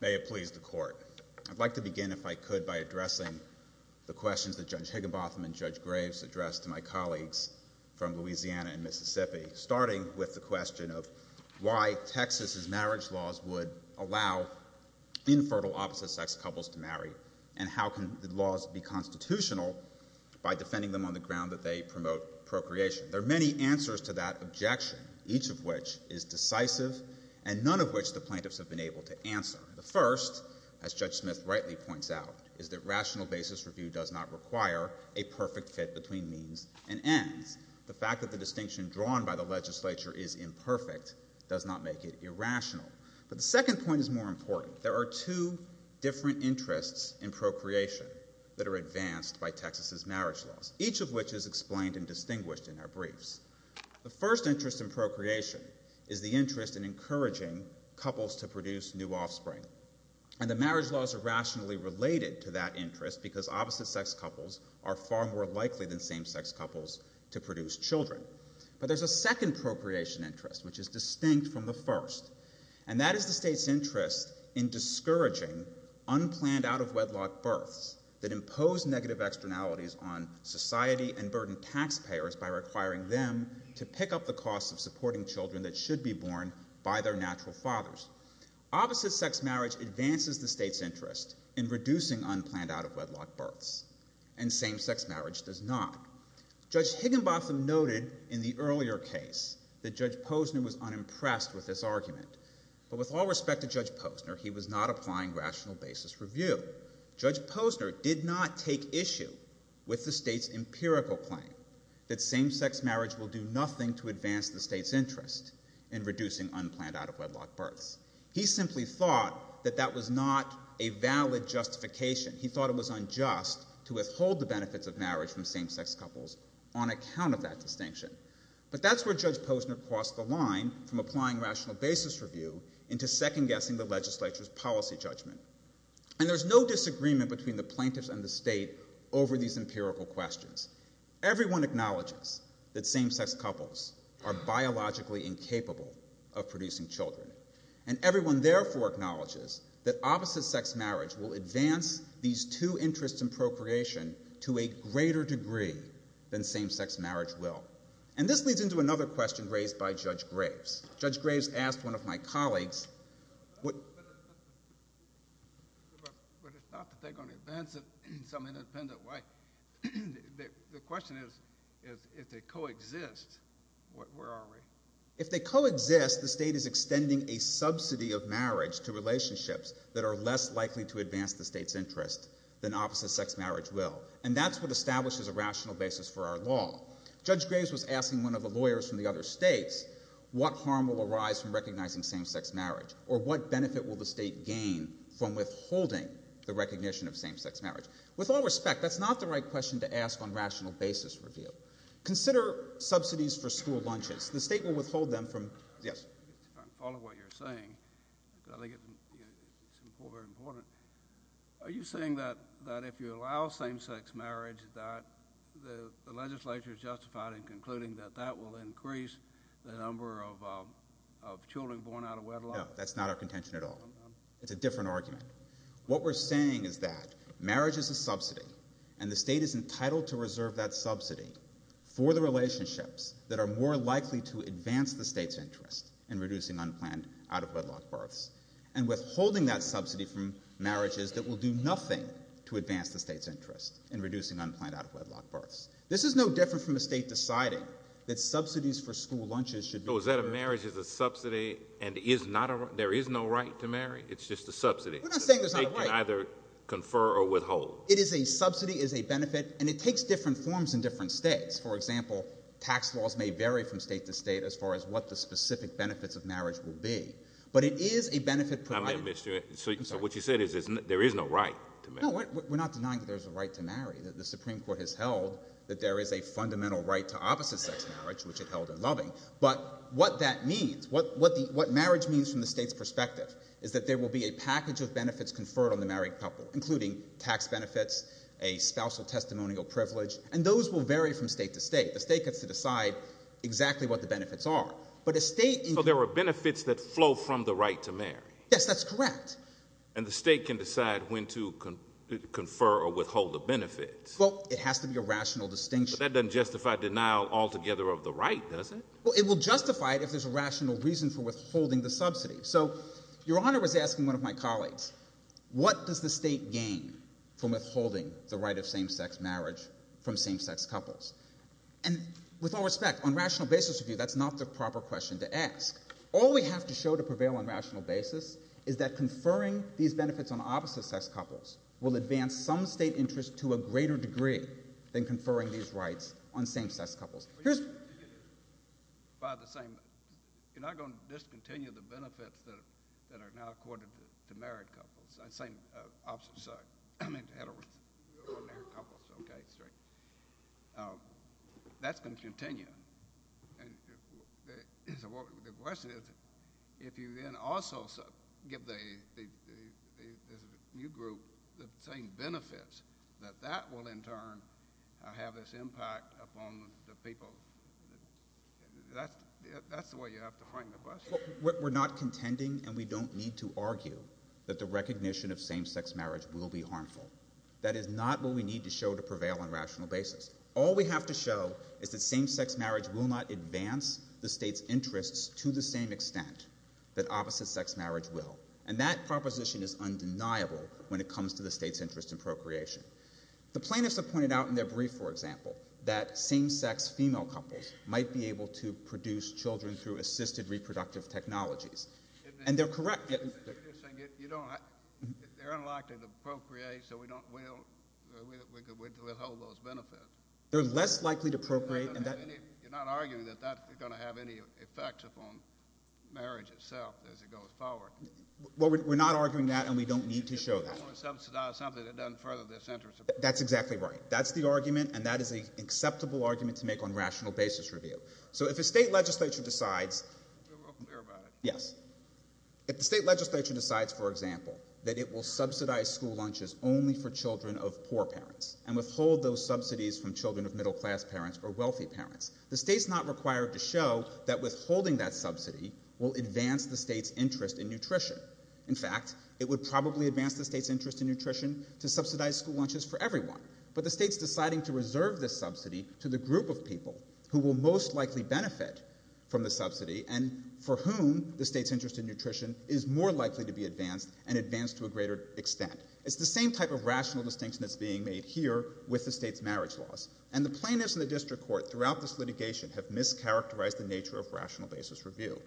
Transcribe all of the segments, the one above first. May it please the Court, I'd like to begin, if I could, by addressing the questions that Judge Higginbotham and Judge Graves addressed to my colleagues from Louisiana and Mississippi, starting with the question of why Texas' marriage laws would allow infertile opposite-sex couples to marry, and how can the laws be constitutional by defending them on the ground that they promote procreation. There are many answers to that objection, each of which is decisive and none of which the plaintiffs have been able to answer. The first, as Judge Smith rightly points out, is that rational basis review does not require a perfect fit between means and ends. The fact that the distinction drawn by the legislature is imperfect does not make it irrational. But the second point is more important. There are two different interests in procreation that are advanced by Texas' marriage laws, each of which is explained and distinguished in our briefs. The first interest in procreation is the interest in encouraging couples to produce new offspring, and the marriage laws are rationally related to that interest because opposite-sex couples are far more likely than same-sex couples to produce children. But there's a second procreation interest, which is distinct from the first, and that is the state's interest in discouraging unplanned out-of-wedlock births that impose negative externalities on society and burden taxpayers by requiring them to pick up the costs of supporting children that should be born by their natural fathers. Opposite-sex marriage advances the state's interest in reducing unplanned out-of-wedlock births, and same-sex marriage does not. Judge Higginbotham noted in the earlier case that Judge Posner was unimpressed with this argument. But with all respect to Judge Posner, he was not applying rational basis review. Judge Posner did not take issue with the state's empirical claim that same-sex marriage will do nothing to advance the state's interest in reducing unplanned out-of-wedlock births. He simply thought that that was not a valid justification. He thought it was unjust to withhold the benefits of marriage from same-sex couples on account of that distinction. But that's where Judge Posner crossed the line from applying rational basis review into second-guessing the legislature's policy judgment. And there's no disagreement between the plaintiffs and the state over these empirical questions. Everyone acknowledges that same-sex couples are biologically incapable of producing children. And everyone therefore acknowledges that opposite-sex marriage will advance these two interests in procreation to a greater degree than same-sex marriage will. And this leads into another question raised by Judge Graves. Judge Graves asked one of my colleagues... But it's not that they're going to advance it in some independent way. The question is, if they co-exist, where are we? If they co-exist, the state is extending a subsidy of marriage to relationships that are less likely to advance the state's interest than opposite-sex marriage will. And that's what establishes a rational basis for our law. Judge Graves was asking one of the lawyers from the other states, what harm will arise from recognizing same-sex marriage? Or what benefit will the state gain from withholding the recognition of same-sex marriage? With all respect, that's not the right question to ask on rational basis review. Consider subsidies for school lunches. The state will withhold them from... Yes? I'm following what you're saying, because I think it's important. Are you saying that if you allow same-sex marriage, that the legislature is justified in concluding that that will increase the number of children born out of wedlock? No, that's not our contention at all. It's a different argument. What we're saying is that marriage is a subsidy, and the state is entitled to reserve that subsidy for the relationships that are more likely to advance the state's interest in reducing unplanned out-of-wedlock births. And withholding that subsidy from marriages that will do nothing to advance the state's interest in reducing unplanned out-of-wedlock births. This is no different from a state deciding that subsidies for school lunches should be... So is that a marriage is a subsidy, and there is no right to marry? It's just a subsidy. We're not saying there's not a right. The state can either confer or withhold. It is a subsidy, it is a benefit, and it takes different forms in different states. For example, tax laws may vary from state to state as far as what the specific benefits of marriage will be. But it is a benefit provided... I'm going to miss you. I'm sorry. So what you said is there is no right to marry. No, we're not denying that there's a right to marry. The Supreme Court has held that there is a fundamental right to opposite-sex marriage, which it held in Loving. But what that means, what marriage means from the state's perspective, is that there will be a package of benefits conferred on the married couple, including tax benefits, a spousal testimonial privilege, and those will vary from state to state. The state gets to decide exactly what the benefits are. But a state... So there are benefits that flow from the right to marry. Yes, that's correct. And the state can decide when to confer or withhold the benefits. Well, it has to be a rational distinction. But that doesn't justify denial altogether of the right, does it? Well, it will justify it if there's a rational reason for withholding the subsidy. So Your Honor was asking one of my colleagues, what does the state gain from withholding the right of same-sex marriage from same-sex couples? And with all respect, on a rational basis, that's not the proper question to ask. All we have to show to prevail on a rational basis is that conferring these benefits on opposite-sex couples will advance some state interest to a greater degree than conferring these rights on same-sex couples. Here's... By the same... You're not going to discontinue the benefits that are now accorded to married couples? I'm sorry, opposite-sex... I mean, heterosexual married couples. Okay, that's right. That's going to continue. And the question is, if you then also give the new group the same benefits, that that will, in turn, have this impact upon the people. That's the way you have to frame the question. We're not contending, and we don't need to argue, that the recognition of same-sex marriage will be harmful. That is not what we need to show to prevail on a rational basis. All we have to show is that same-sex marriage will not advance the state's interests to the same extent that opposite-sex marriage will. And that proposition is undeniable when it comes to the state's interest in procreation. The plaintiffs have pointed out in their brief, for example, that same-sex female couples might be able to produce children through assisted reproductive technologies. And they're correct... They're unlikely to procreate, so we don't withhold those benefits. They're less likely to procreate... You're not arguing that that's going to have any effect upon marriage itself as it goes forward. Well, we're not arguing that, and we don't need to show that. You don't want to subsidize something that doesn't further this interest. That's exactly right. That's the argument, and that is an acceptable argument to make on rational basis review. So if a state legislature decides... Be real clear about it. Yes. If the state legislature decides, for example, that it will subsidize school lunches only for children of poor parents and withhold those subsidies from children of middle-class parents or wealthy parents, the state's not required to show that withholding that subsidy will advance the state's interest in nutrition. In fact, it would probably advance the state's interest in nutrition to subsidize school lunches for everyone. But the state's deciding to reserve this subsidy to the group of people who will most likely benefit from the subsidy and for whom the state's interest in nutrition is more likely to be advanced and advanced to a greater extent. It's the same type of rational distinction that's being made here with the state's marriage laws, and the plaintiffs in the district court throughout this litigation have mischaracterized the nature of rational basis review.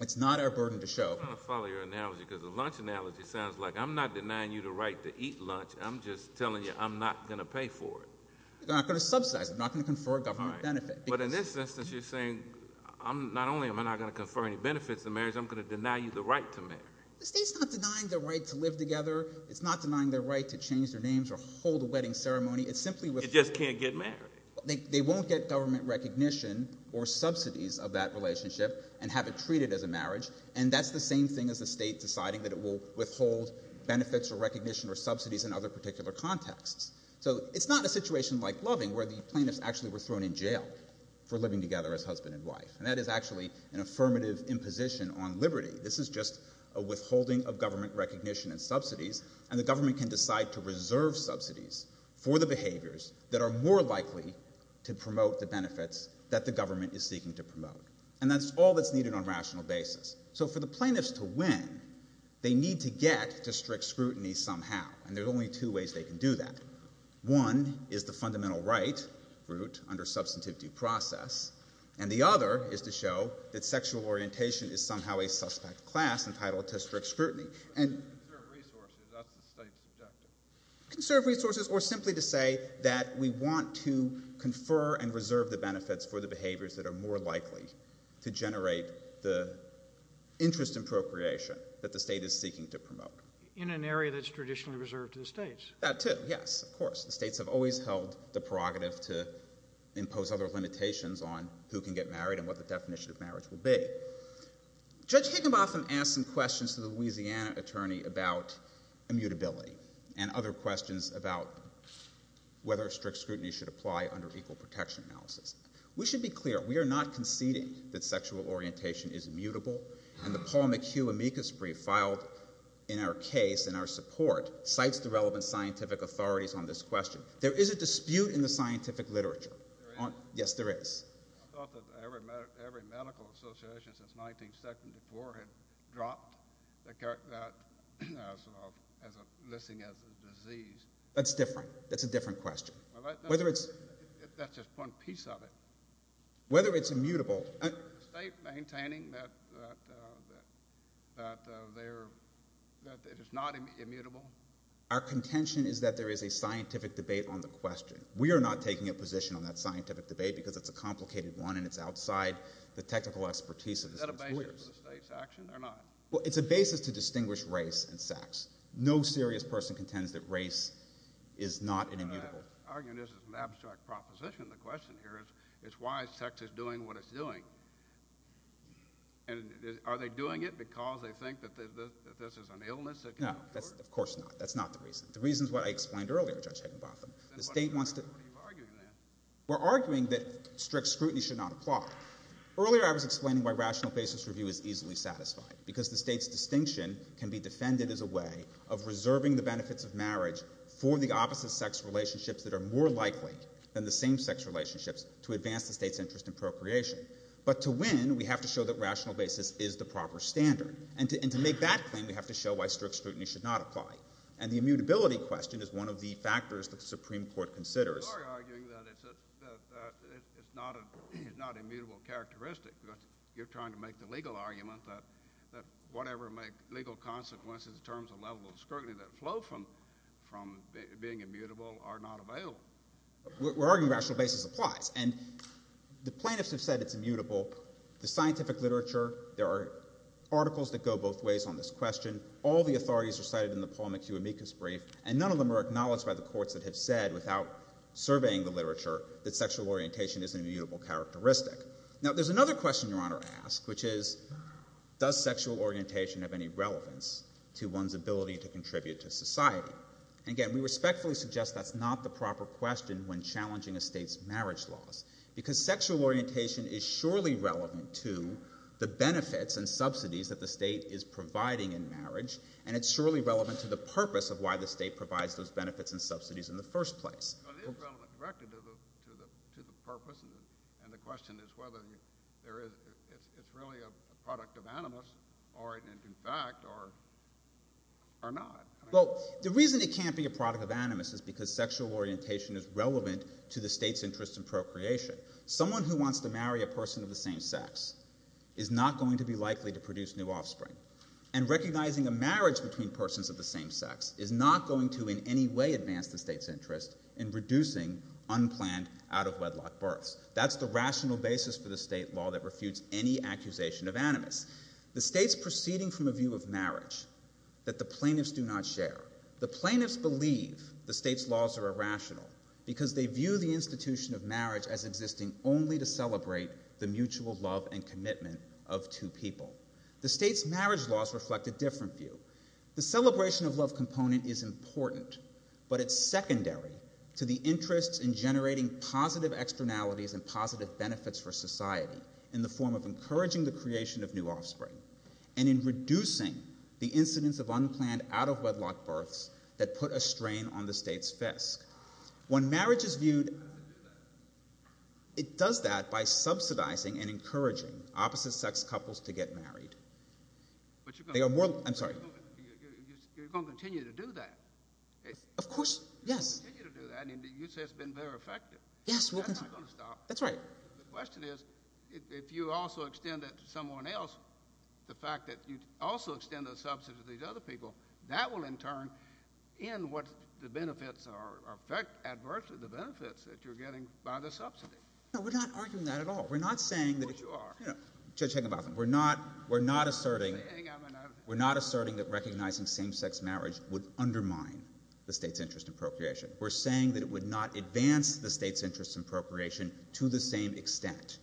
It's not our burden to show... I'm going to follow your analogy because the lunch analogy sounds like I'm not denying you the right to eat lunch. I'm just telling you I'm not going to pay for it. You're not going to subsidize it. You're not going to confer a government benefit. But in this instance, you're saying not only am I not going to confer any benefits in marriage, I'm going to deny you the right to marry. The state's not denying their right to live together. It's not denying their right to change their names or hold a wedding ceremony. It's simply... It just can't get married. They won't get government recognition or subsidies of that relationship and have it treated as a marriage, and that's the same thing as the state deciding that it will withhold benefits or recognition or subsidies in other particular contexts. So it's not a situation like Loving where the plaintiffs actually were thrown in jail for living together as husband and wife, and that is actually an affirmative imposition on liberty. This is just a withholding of government recognition and subsidies, and the government can decide to reserve subsidies for the behaviors that are more likely to promote the benefits that the government is seeking to promote, and that's all that's needed on a rational basis. So for the plaintiffs to win, they need to get to strict scrutiny somehow, and there are two ways to do that. One is the fundamental right route under substantivity process, and the other is to show that sexual orientation is somehow a suspect class entitled to strict scrutiny. And... Conserve resources. That's the state's objective. Conserve resources or simply to say that we want to confer and reserve the benefits for the behaviors that are more likely to generate the interest in procreation that the state is seeking to promote. In an area that's traditionally reserved to the states. That too. Yes, of course. The states have always held the prerogative to impose other limitations on who can get married and what the definition of marriage will be. Judge Higginbotham asked some questions to the Louisiana attorney about immutability and other questions about whether strict scrutiny should apply under equal protection analysis. We should be clear. We are not conceding that sexual orientation is immutable, and the Paul McHugh amicus brief in our case and our support cites the relevant scientific authorities on this question. There is a dispute in the scientific literature. There is? Yes, there is. I thought that every medical association since 1974 had dropped that sort of listing as a disease. That's different. That's a different question. Whether it's... That's just one piece of it. Whether it's immutable... Is the state maintaining that it is not immutable? Our contention is that there is a scientific debate on the question. We are not taking a position on that scientific debate because it's a complicated one and it's outside the technical expertise of the state lawyers. Is that a basis for the state's action or not? Well, it's a basis to distinguish race and sex. No serious person contends that race is not an immutable... I'm arguing this is an abstract proposition. The question here is why sex is doing what it's doing. And are they doing it because they think that this is an illness that can be cured? No, of course not. That's not the reason. The reason is what I explained earlier, Judge Higginbotham. What are you arguing then? We're arguing that strict scrutiny should not apply. Earlier I was explaining why rational basis review is easily satisfied, because the state's distinction can be defended as a way of reserving the benefits of marriage for the opposite sex relationships that are more likely than the same sex relationships to advance the state's interest in procreation. But to win, we have to show that rational basis is the proper standard. And to make that claim, we have to show why strict scrutiny should not apply. And the immutability question is one of the factors that the Supreme Court considers. You are arguing that it's not an immutable characteristic. You're trying to make the legal argument that whatever legal consequences in terms of level of scrutiny that flow from being immutable are not available. We're arguing rational basis applies. And the plaintiffs have said it's immutable. The scientific literature, there are articles that go both ways on this question. All the authorities are cited in the Paul McHugh amicus brief, and none of them are acknowledged by the courts that have said, without surveying the literature, that sexual orientation is an immutable characteristic. Now, there's another question Your Honor asked, which is, does sexual orientation have any Again, we respectfully suggest that's not the proper question when challenging a state's marriage laws, because sexual orientation is surely relevant to the benefits and subsidies that the state is providing in marriage, and it's surely relevant to the purpose of why the state provides those benefits and subsidies in the first place. It is relevant directly to the purpose, and the question is whether it's really a product of animus, or in fact, or not. Well, the reason it can't be a product of animus is because sexual orientation is relevant to the state's interest in procreation. Someone who wants to marry a person of the same sex is not going to be likely to produce new offspring. And recognizing a marriage between persons of the same sex is not going to in any way advance the state's interest in reducing unplanned out-of-wedlock births. That's the rational basis for the state law that refutes any accusation of animus. The state's proceeding from a view of marriage that the plaintiffs do not share. The plaintiffs believe the state's laws are irrational because they view the institution of marriage as existing only to celebrate the mutual love and commitment of two people. The state's marriage laws reflect a different view. The celebration of love component is important, but it's secondary to the interest in generating positive externalities and positive benefits for society in the form of encouraging the creation of new offspring and in reducing the incidence of unplanned out-of-wedlock births that put a strain on the state's fest. When marriage is viewed, it does that by subsidizing and encouraging opposite-sex couples to get married. But you're going to continue to do that. Of course, yes. You say it's been very effective. That's not going to stop. That's right. The question is, if you also extend that to someone else, the fact that you also extend the subsidy to these other people, that will in turn end what the benefits are, affect adversely the benefits that you're getting by the subsidy. No, we're not arguing that at all. Of course you are. We're not asserting that recognizing same-sex marriage would undermine the state's interest in procreation. We're saying that it would not advance the state's interest in procreation to the same extent.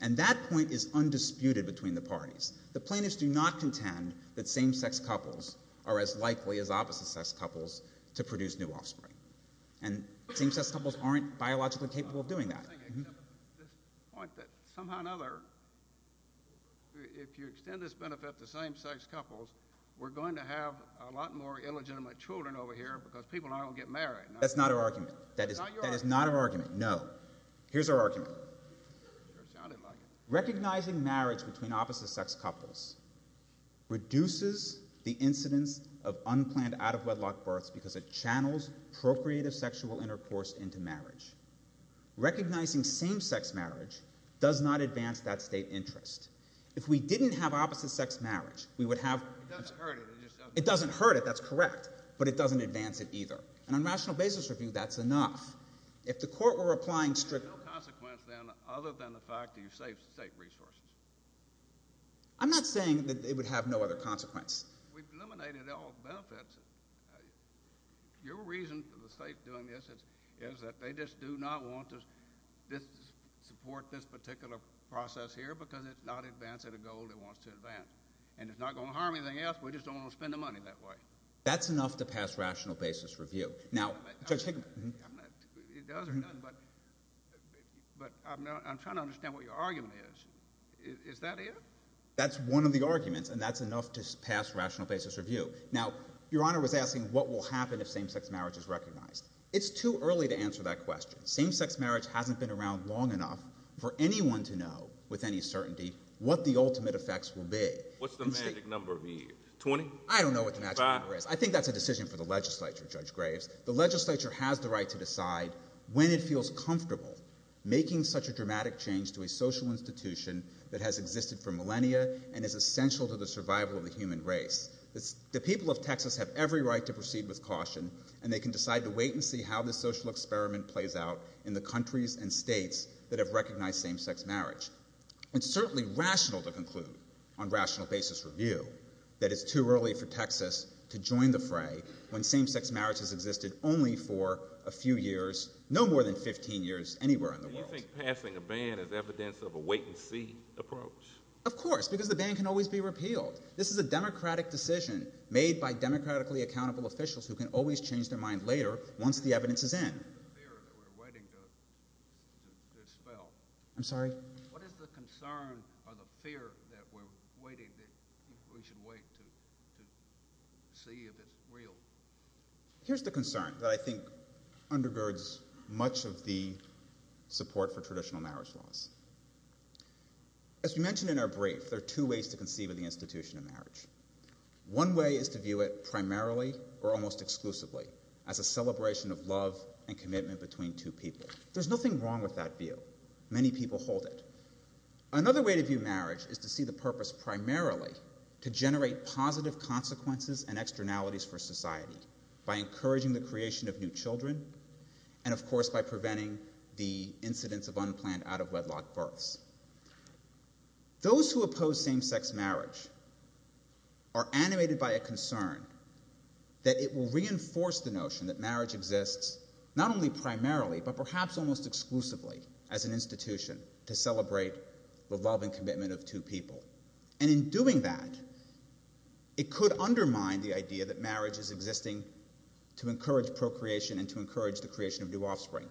And that point is undisputed between the parties. The plaintiffs do not contend that same-sex couples are as likely as opposite-sex couples to produce new offspring. And same-sex couples aren't biologically capable of doing that. I was going to say, except this point that somehow or another, if you extend this benefit to same-sex couples, we're going to have a lot more illegitimate children over here because people aren't going to get married. That's not our argument. That is not our argument, no. Here's our argument. Recognizing marriage between opposite-sex couples reduces the incidence of unplanned out-of-wedlock births because it channels procreative sexual intercourse into marriage. Recognizing same-sex marriage does not advance that state interest. If we didn't have opposite-sex marriage, we would have... It doesn't hurt it. It doesn't hurt it. That's correct. But it doesn't advance it either. And on rational basis review, that's enough. If the court were applying strict... There's no consequence then other than the fact that you saved state resources. I'm not saying that it would have no other consequence. We've eliminated all benefits. Your reason for the state doing this is that they just do not want to support this particular process here because it's not advancing the goal it wants to advance. And it's not going to harm anything else. In fact, we just don't want to spend the money that way. That's enough to pass rational basis review. Now, Judge Hickman... It doesn't, but I'm trying to understand what your argument is. Is that it? That's one of the arguments, and that's enough to pass rational basis review. Now, Your Honor was asking what will happen if same-sex marriage is recognized. It's too early to answer that question. Same-sex marriage hasn't been around long enough for anyone to know with any certainty what the ultimate effects will be. What's the magic number? 20? I don't know what the magic number is. Five? I think that's a decision for the legislature, Judge Graves. The legislature has the right to decide when it feels comfortable making such a dramatic change to a social institution that has existed for millennia and is essential to the survival of the human race. The people of Texas have every right to proceed with caution, and they can decide to wait and see how this social experiment plays out in the countries and states that have recognized same-sex marriage. It's certainly rational to conclude on rational basis review that it's too early for Texas to join the fray when same-sex marriage has existed only for a few years, no more than 15 years anywhere in the world. Do you think passing a ban is evidence of a wait-and-see approach? Of course, because the ban can always be repealed. This is a democratic decision made by democratically accountable officials who can always change their mind later once the evidence is in. What is the concern or the fear that we should wait to see if it's real? Here's the concern that I think undergirds much of the support for traditional marriage laws. As we mentioned in our brief, there are two ways to conceive of the institution of marriage. One way is to view it primarily or almost exclusively as a celebration of love and commitment between two people. There's nothing wrong with that view. Many people hold it. Another way to view marriage is to see the purpose primarily to generate positive consequences and externalities for society by encouraging the creation of new children and, of course, by preventing the incidence of unplanned out-of-wedlock births. Those who oppose same-sex marriage are animated by a concern that it will reinforce the notion that marriage exists not only primarily but perhaps almost exclusively as an institution to celebrate the love and commitment of two people. And in doing that, it could undermine the idea that marriage is existing to encourage procreation and to encourage the creation of new offspring.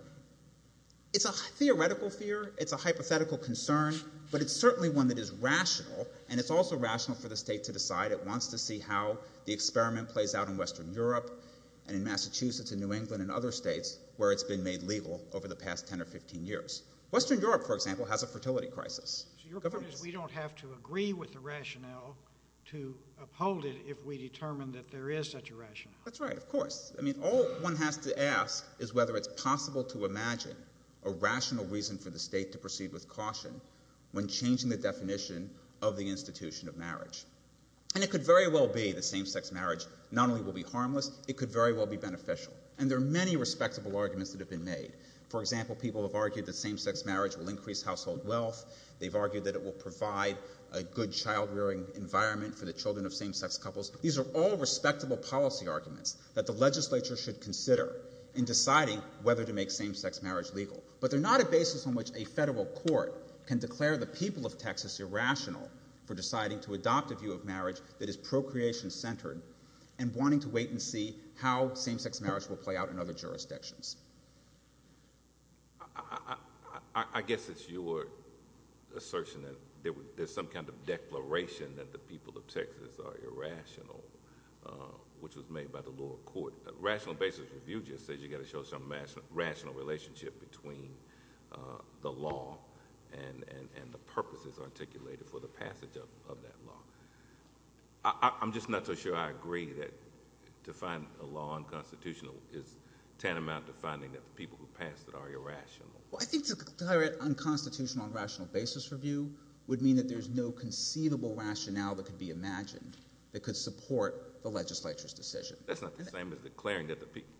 It's a theoretical fear. It's a hypothetical concern, but it's certainly one that is rational, and it's also rational for the state to decide. It wants to see how the experiment plays out in Western Europe and in Massachusetts and New England and other states where it's been made legal over the past 10 or 15 years. Western Europe, for example, has a fertility crisis. So your point is we don't have to agree with the rationale to uphold it if we determine that there is such a rationale. That's right, of course. I mean, all one has to ask is whether it's possible to imagine a rational reason for the state to proceed with caution when changing the definition of the institution of marriage. And it could very well be that same-sex marriage not only will be harmless, it could very well be beneficial. And there are many respectable arguments that have been made. For example, people have argued that same-sex marriage will increase household wealth. They've argued that it will provide a good child-rearing environment for the children of same-sex couples. These are all respectable policy arguments that the legislature should consider in deciding whether to make same-sex marriage legal. But they're not a basis on which a federal court can declare the people of Texas irrational for deciding to adopt a view of marriage that is procreation-centered and wanting to wait and see how same-sex marriage will play out in other jurisdictions. I guess it's your assertion that there's some kind of declaration that the people of Texas are irrational, which was made by the lower court. Rational basis review just says you've got to show some rational relationship between the law and the purposes articulated for the passage of that law. I'm just not so sure I agree that to find a law unconstitutional is tantamount to finding that the people who passed it are irrational. Well, I think to declare it unconstitutional on rational basis review would mean that there's no conceivable rationale that could be imagined that could support the legislature's decision. That's not the same as declaring that the people—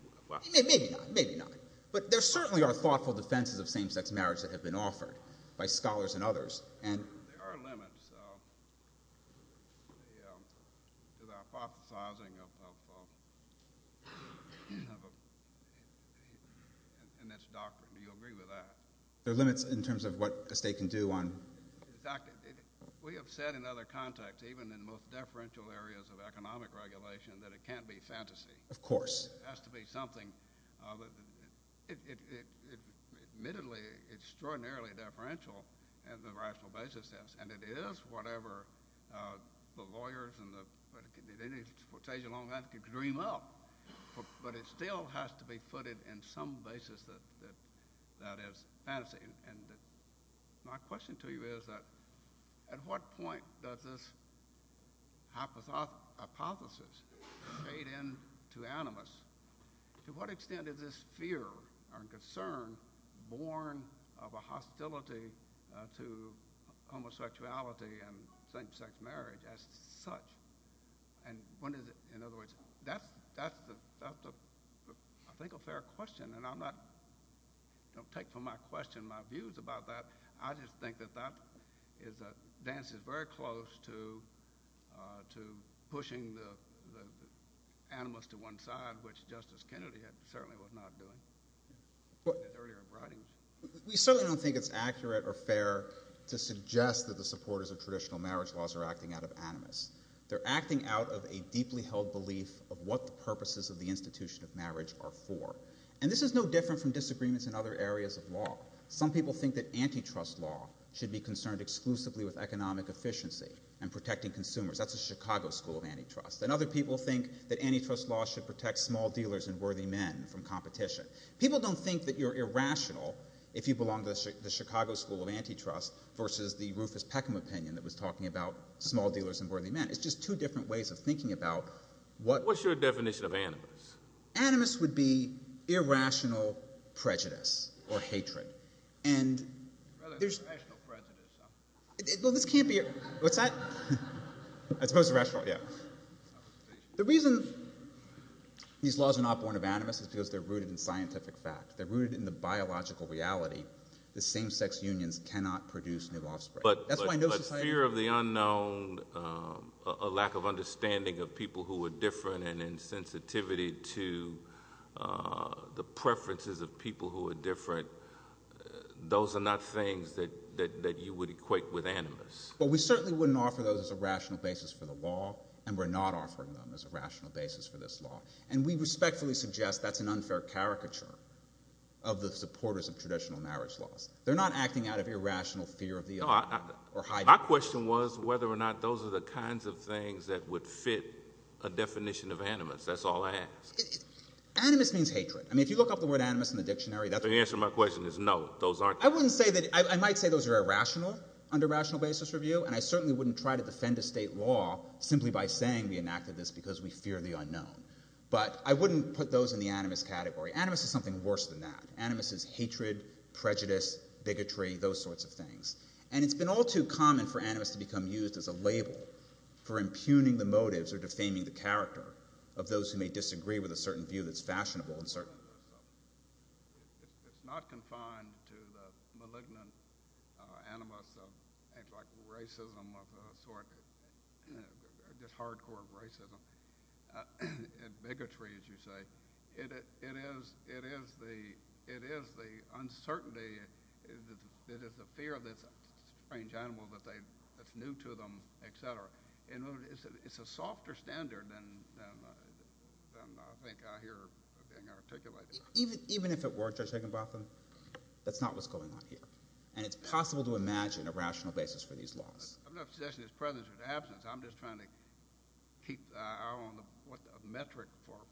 Maybe not. Maybe not. But there certainly are thoughtful defenses of same-sex marriage that have been offered by scholars and others, and— There are limits to the hypothesizing of—in its doctrine. Do you agree with that? There are limits in terms of what a state can do on— Exactly. We have said in other contexts, even in the most deferential areas of economic regulation, that it can't be fantasy. Of course. It has to be something—it—admittedly, it's extraordinarily deferential on a rational basis, yes, and it is whatever the lawyers and the—at any stage along that could dream up, but it still has to be footed in some basis that is fantasy. My question to you is that at what point does this hypothesis fade into animus? To what extent is this fear or concern born of a hostility to homosexuality and same-sex marriage as such? And when is it—in other words, that's the—I think a fair question, and I'm not—don't question my views about that. I just think that that is—dances very close to pushing the animus to one side, which Justice Kennedy certainly was not doing in his earlier writings. We certainly don't think it's accurate or fair to suggest that the supporters of traditional marriage laws are acting out of animus. They're acting out of a deeply held belief of what the purposes of the institution of marriage are for. And this is no different from disagreements in other areas of law. Some people think that antitrust law should be concerned exclusively with economic efficiency and protecting consumers. That's the Chicago School of Antitrust. And other people think that antitrust law should protect small dealers and worthy men from competition. People don't think that you're irrational if you belong to the Chicago School of Antitrust versus the Rufus Peckham opinion that was talking about small dealers and worthy men. It's just two different ways of thinking about what— What's your definition of animus? Animus would be irrational prejudice or hatred. And there's— Rather than rational prejudice. Well, this can't be— What's that? As opposed to rational, yeah. The reason these laws are not born of animus is because they're rooted in scientific fact. They're rooted in the biological reality that same-sex unions cannot produce new offspring. That's why no society— But fear of the unknown, a lack of understanding of people who are different, and insensitivity to the preferences of people who are different, those are not things that you would equate with animus. Well, we certainly wouldn't offer those as a rational basis for the law, and we're not offering them as a rational basis for this law. And we respectfully suggest that's an unfair caricature of the supporters of traditional marriage laws. They're not acting out of irrational fear of the unknown. My question was whether or not those are the kinds of things that would fit a definition of animus. That's all I ask. Animus means hatred. I mean, if you look up the word animus in the dictionary, that's— The answer to my question is no, those aren't— I wouldn't say that—I might say those are irrational under rational basis review, and I certainly wouldn't try to defend a state law simply by saying we enacted this because we fear the unknown. But I wouldn't put those in the animus category. Animus is something worse than that. Animus is hatred, prejudice, bigotry, those sorts of things. And it's been all too common for animus to become used as a label for impugning the motives or defaming the character of those who may disagree with a certain view that's fashionable and certain. It's not confined to the malignant animus of things like racism of a sort, just hardcore racism and bigotry, as you say. It is the uncertainty that is the fear of this strange animal that's new to them, et cetera. It's a softer standard than I think I hear being articulated. Even if it were, Judge Higginbotham, that's not what's going on here. And it's possible to imagine a rational basis for these laws. I'm not suggesting there's prejudice or absence. I'm just trying to keep an eye on the metric for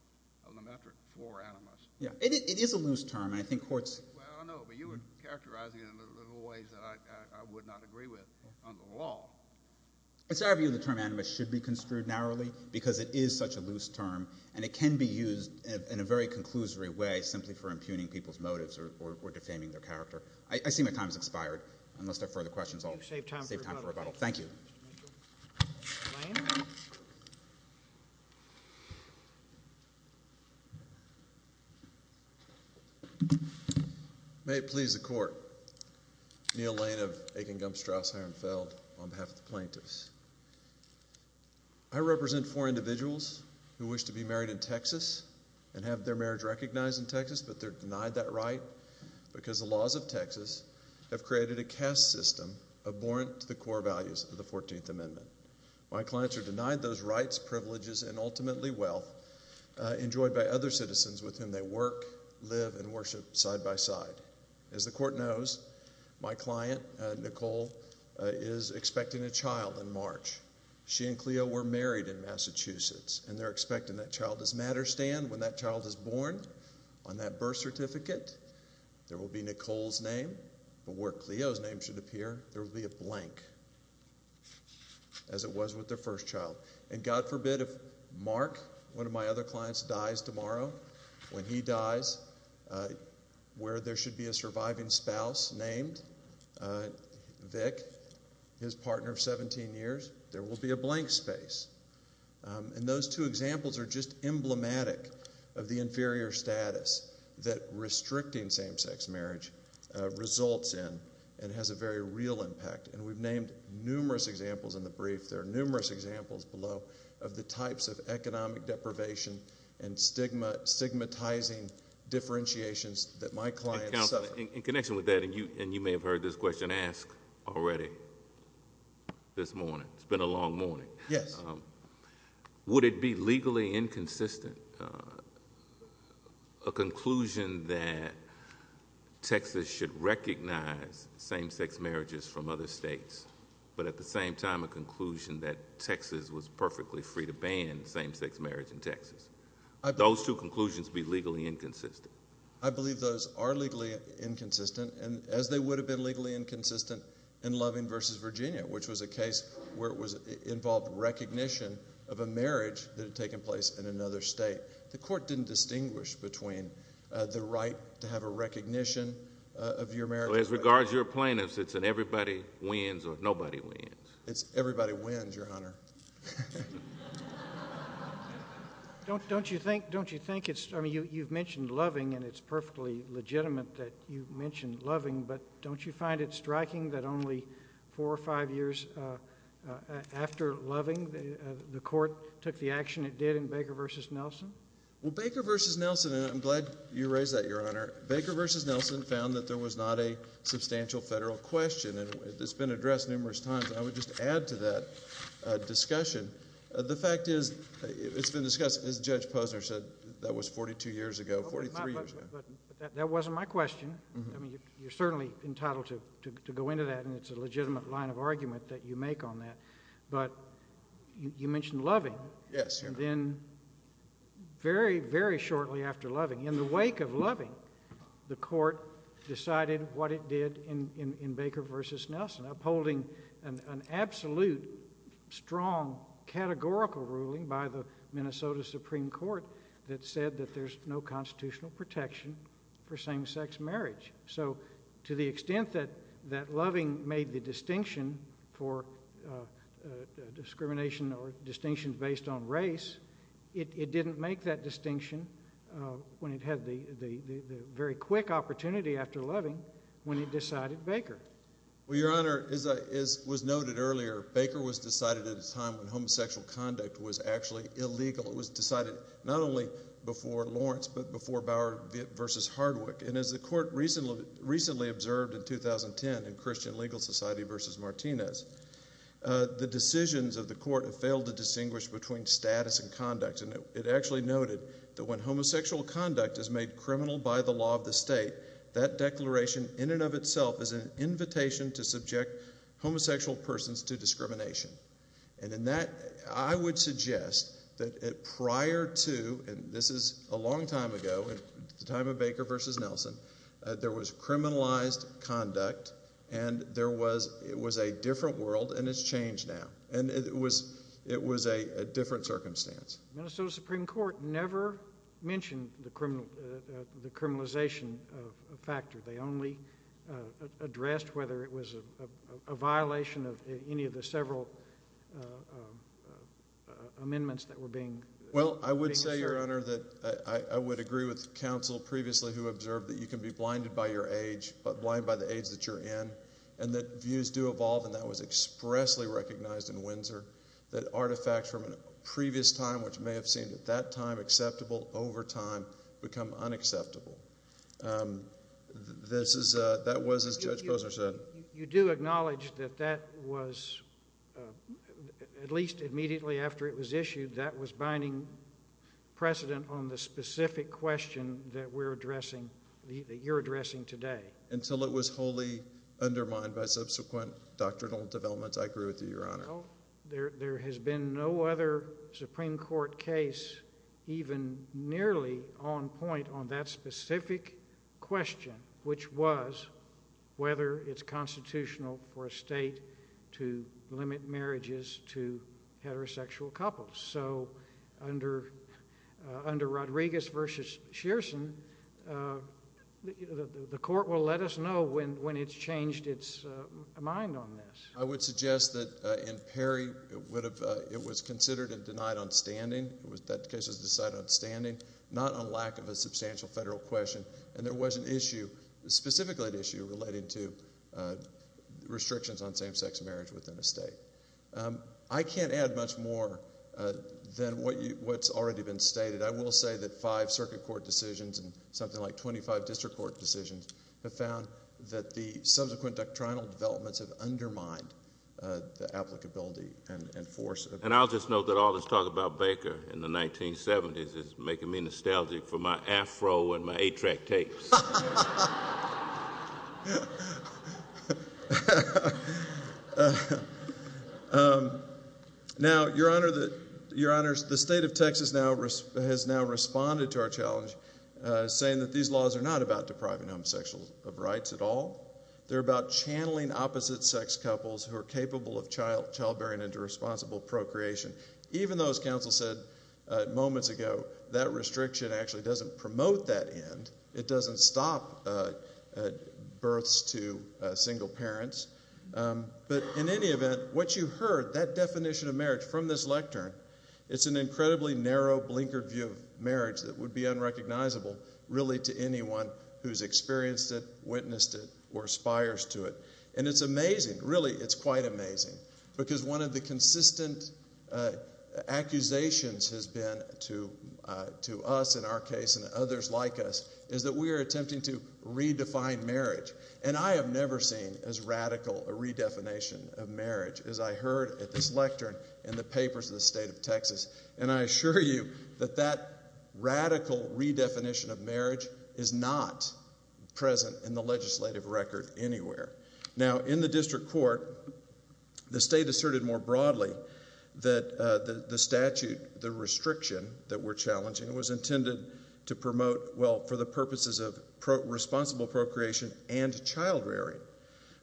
animus. It is a loose term. I know, but you were characterizing it in little ways that I would not agree with on the law. It's our view the term animus should be construed narrowly because it is such a loose term, and it can be used in a very conclusory way simply for impugning people's motives or defaming their character. I see my time has expired. Unless there are further questions, I'll save time for rebuttal. Thank you. Lane. May it please the Court. Neil Lane of Aiken, Gumstrasse, Hirenfeld on behalf of the plaintiffs. I represent four individuals who wish to be married in Texas and have their marriage recognized in Texas but they're denied that right because the laws of Texas have created a caste system abhorrent to the core values of the 14th Amendment. My clients are denied those rights, privileges, and ultimately wealth enjoyed by other citizens with whom they work, live, and worship side by side. As the Court knows, my client, Nicole, is expecting a child in March. She and Cleo were married in Massachusetts, and they're expecting that child as matter stand. When that child is born, on that birth certificate, there will be Nicole's name, but where Cleo's name should appear, there will be a blank as it was with their first child. And God forbid if Mark, one of my other clients, dies tomorrow, when he dies, where there should be a surviving spouse named Vic, his partner of 17 years, there will be a blank space. And those two examples are just emblematic of the inferior status that restricting same-sex marriage results in and has a very real impact. And we've named numerous examples in the brief. There are numerous examples below of the types of economic deprivation and stigmatizing differentiations that my clients suffer. And Counselor, in connection with that, and you may have heard this question asked already this morning. It's been a long morning. Yes. Would it be legally inconsistent, a conclusion that Texas should recognize same-sex marriages from other states, but at the same time a conclusion that Texas was perfectly free to ban same-sex marriage in Texas? Would those two conclusions be legally inconsistent? I believe those are legally inconsistent, as they would have been legally inconsistent in Loving v. Virginia, which was a case where it involved recognition of a marriage that had taken place in another state. The Court didn't distinguish between the right to have a recognition of your marriage. As regards your plaintiffs, it's an everybody wins or nobody wins. It's everybody wins, Your Honor. Don't you think it's, I mean, you've mentioned Loving, and it's perfectly legitimate that you've mentioned Loving, but don't you find it striking that only four or five years after Loving, the Court took the action it did in Baker v. Nelson? Well, Baker v. Nelson, and I'm glad you raised that, Your Honor, Baker v. Nelson found that there was not a substantial federal question, and it's been addressed numerous times. I would just add to that discussion, the fact is it's been discussed, as Judge Posner said, that was 42 years ago, 43 years ago. But that wasn't my question. I mean, you're certainly entitled to go into that, and it's a legitimate line of argument that you make on that. But you mentioned Loving. Yes, Your Honor. And then very, very shortly after Loving, in the wake of Loving, the Court decided what it did in Baker v. Nelson, upholding an absolute, strong, categorical ruling by the Minnesota Supreme Court that said that there's no constitutional protection for same-sex marriage. So to the extent that Loving made the distinction for discrimination or distinction based on race, it didn't make that distinction when it had the very quick opportunity after Loving when it decided Baker. Well, Your Honor, as was noted earlier, Baker was decided at a time when homosexual conduct was actually illegal. It was decided not only before Lawrence but before Bauer v. Hardwick. And as the Court recently observed in 2010 in Christian Legal Society v. Martinez, the decisions of the Court have failed to distinguish between status and conduct. And it actually noted that when homosexual conduct is made criminal by the law of the state, that declaration in and of itself is an invitation to subject homosexual persons to discrimination. And in that, I would suggest that prior to, and this is a long time ago, the time of Baker v. Nelson, there was criminalized conduct and it was a different world and it's changed now. And it was a different circumstance. The Minnesota Supreme Court never mentioned the criminalization factor. They only addressed whether it was a violation of any of the several amendments that were being asserted. Well, I would say, Your Honor, that I would agree with counsel previously who observed that you can be blinded by your age, blind by the age that you're in, and that views do evolve, and that was expressly recognized in Windsor, that artifacts from a previous time which may have seemed at that time acceptable over time become unacceptable. That was as Judge Posner said. You do acknowledge that that was, at least immediately after it was issued, that was binding precedent on the specific question that we're addressing, that you're addressing today. Until it was wholly undermined by subsequent doctrinal developments, I agree with you, Your Honor. Well, there has been no other Supreme Court case even nearly on point on that specific question, which was whether it's constitutional for a state to limit marriages to heterosexual couples. So under Rodriguez v. Shearson, the court will let us know when it's changed its mind on this. I would suggest that in Perry, it was considered and denied on standing. That case was decided on standing, not on lack of a substantial federal question, and there was an issue, specifically an issue, relating to restrictions on same-sex marriage within a state. I can't add much more than what's already been stated. I will say that five circuit court decisions and something like 25 district court decisions have found that the subsequent doctrinal developments have undermined the applicability and force. And I'll just note that all this talk about Baker in the 1970s is making me nostalgic for my Afro and my 8-track tapes. Now, Your Honor, the state of Texas has now responded to our challenge, saying that these laws are not about depriving homosexuals of rights at all. They're about channeling opposite-sex couples who are capable of childbearing into responsible procreation, even though, as counsel said moments ago, that restriction actually doesn't promote that end. It doesn't stop births to single parents. But in any event, what you heard, that definition of marriage from this lectern, it's an incredibly narrow, blinkered view of marriage that would be unrecognizable, really, to anyone who's experienced it, witnessed it, or aspires to it. And it's amazing, really, it's quite amazing, because one of the consistent accusations has been to us, in our case, and others like us, is that we are attempting to redefine marriage. And I have never seen as radical a redefinition of marriage as I heard at this lectern in the papers of the state of Texas. And I assure you that that radical redefinition of marriage is not present in the legislative record anywhere. Now, in the district court, the state asserted more broadly that the statute, the restriction that we're challenging, was intended to promote, well, for the purposes of responsible procreation and childrearing.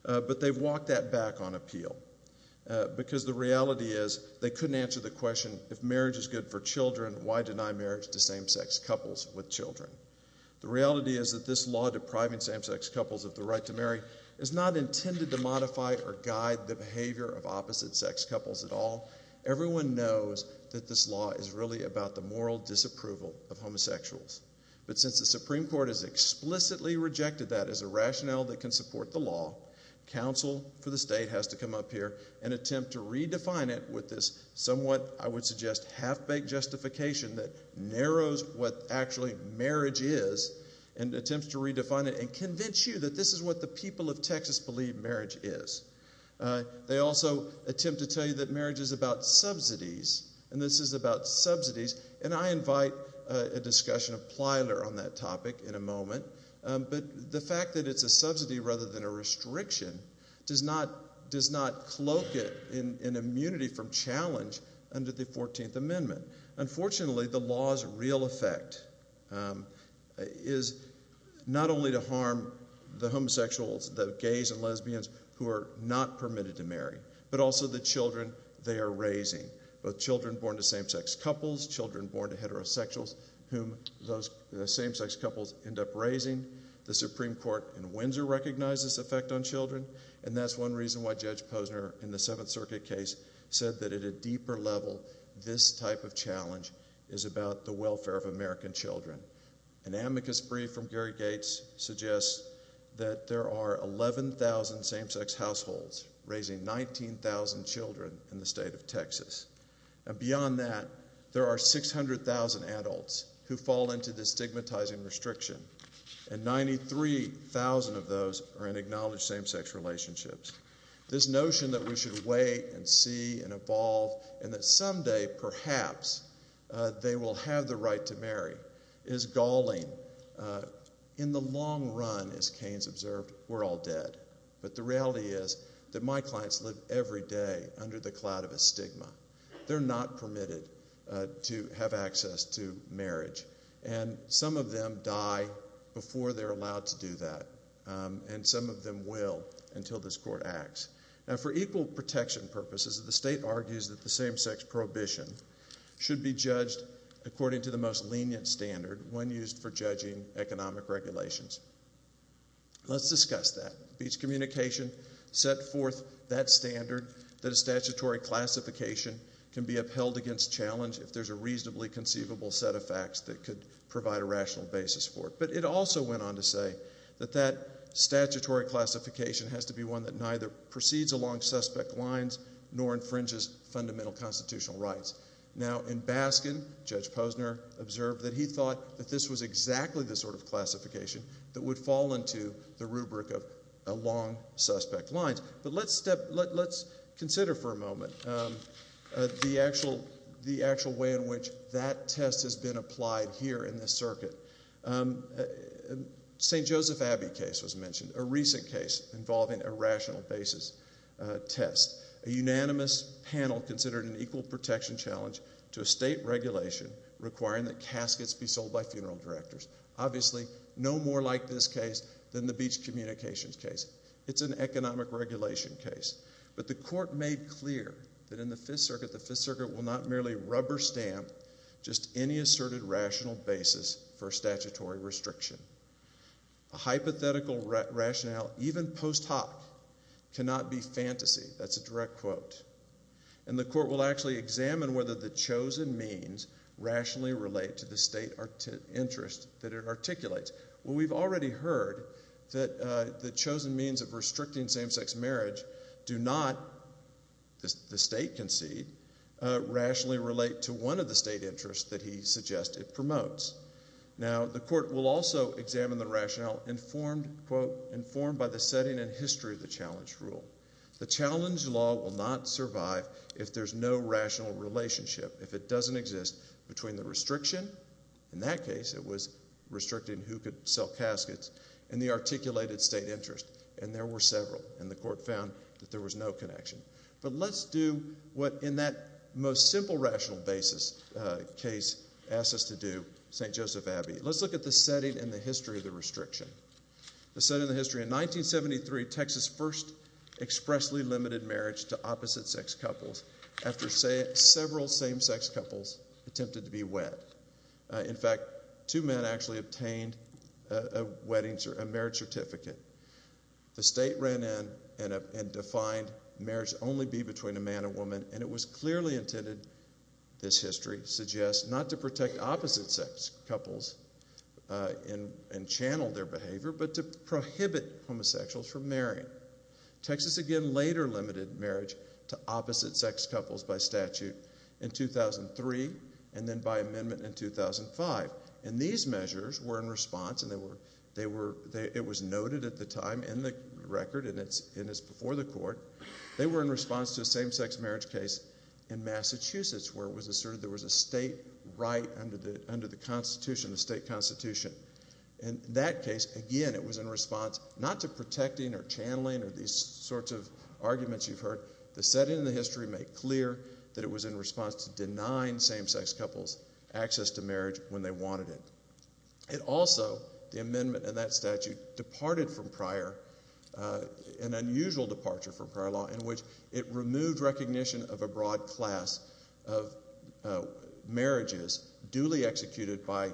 But they've walked that back on appeal, because the reality is they couldn't answer the question, if marriage is good for children, why deny marriage to same-sex couples with children? The reality is that this law depriving same-sex couples of the right to marry is not intended to modify or guide the behavior of opposite-sex couples at all. Everyone knows that this law is really about the moral disapproval of homosexuals. But since the Supreme Court has explicitly rejected that as a rationale that can support the law, counsel for the state has to come up here and attempt to redefine it with this somewhat, I would suggest, half-baked justification that narrows what actually marriage is, and attempts to redefine it and convince you that this is what the people of Texas believe marriage is. They also attempt to tell you that marriage is about subsidies, and this is about subsidies. And I invite a discussion of Plyler on that topic in a moment. But the fact that it's a subsidy rather than a restriction does not cloak it in immunity from challenge under the 14th Amendment. Unfortunately, the law's real effect is not only to harm the homosexuals, the gays and lesbians, who are not permitted to marry, but also the children they are raising, both children born to same-sex couples, children born to heterosexuals whom those same-sex couples end up raising. The Supreme Court in Windsor recognized this effect on children, and that's one reason why Judge Posner in the Seventh Circuit case said that at a deeper level, this type of challenge is about the welfare of American children. An amicus brief from Gary Gates suggests that there are 11,000 same-sex households raising 19,000 children in the state of Texas. And beyond that, there are 600,000 adults who fall into this stigmatizing restriction, and 93,000 of those are in acknowledged same-sex relationships. This notion that we should wait and see and evolve and that someday perhaps they will have the right to marry is galling. In the long run, as Keynes observed, we're all dead. But the reality is that my clients live every day under the cloud of a stigma. They're not permitted to have access to marriage. And some of them die before they're allowed to do that, and some of them will until this court acts. Now, for equal protection purposes, the state argues that the same-sex prohibition should be judged according to the most lenient standard, one used for judging economic regulations. Let's discuss that. Beach Communication set forth that standard that a statutory classification can be upheld against challenge if there's a reasonably conceivable set of facts that could provide a rational basis for it. But it also went on to say that that statutory classification has to be one that neither proceeds along suspect lines nor infringes fundamental constitutional rights. Now, in Baskin, Judge Posner observed that he thought that this was exactly the sort of classification that would fall into the rubric of along suspect lines. But let's consider for a moment the actual way in which that test has been applied here in this circuit. St. Joseph Abbey case was mentioned, a recent case involving a rational basis test. A unanimous panel considered an equal protection challenge to a state regulation requiring that caskets be sold by funeral directors. Obviously, no more like this case than the Beach Communications case. It's an economic regulation case. But the court made clear that in the Fifth Circuit, the Fifth Circuit will not merely rubber stamp just any asserted rational basis for statutory restriction. A hypothetical rationale, even post hoc, cannot be fantasy. That's a direct quote. And the court will actually examine whether the chosen means rationally relate to the state interest that it articulates. Well, we've already heard that the chosen means of restricting same-sex marriage do not, the state concede, rationally relate to one of the state interests that he suggests it promotes. Now, the court will also examine the rationale informed, quote, informed by the setting and history of the challenge rule. The challenge law will not survive if there's no rational relationship, if it doesn't exist, between the restriction, in that case it was restricting who could sell caskets, and the articulated state interest. And there were several, and the court found that there was no connection. But let's do what in that most simple rational basis case asks us to do, St. Joseph Abbey. Let's look at the setting and the history of the restriction. The setting and the history, in 1973, Texas first expressly limited marriage to opposite-sex couples after several same-sex couples attempted to be wed. In fact, two men actually obtained a marriage certificate. The state ran in and defined marriage to only be between a man and woman, and it was clearly intended, this history suggests, not to protect opposite-sex couples and channel their behavior, but to prohibit homosexuals from marrying. Texas, again, later limited marriage to opposite-sex couples by statute in 2003, and then by amendment in 2005. And these measures were in response, and it was noted at the time in the record, and it's before the court, they were in response to a same-sex marriage case in Massachusetts where it was asserted there was a state right under the Constitution, the state Constitution. In that case, again, it was in response not to protecting or channeling or these sorts of arguments you've heard. The setting and the history make clear that it was in response to denying same-sex couples access to marriage when they wanted it. It also, the amendment and that statute, departed from prior, an unusual departure from prior law, in which it removed recognition of a broad class of marriages duly executed by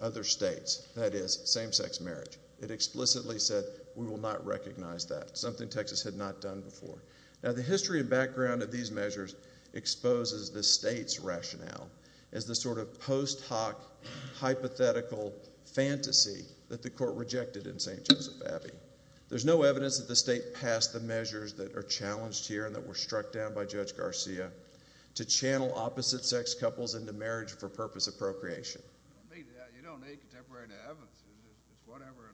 other states, that is, same-sex marriage. It explicitly said we will not recognize that, something Texas had not done before. Now, the history and background of these measures exposes the state's rationale as the sort of post hoc hypothetical fantasy that the court rejected in St. Joseph Abbey. There's no evidence that the state passed the measures that are challenged here and that were struck down by Judge Garcia to channel opposite-sex couples into marriage for purpose of procreation. You don't need contemporary evidence. It's whatever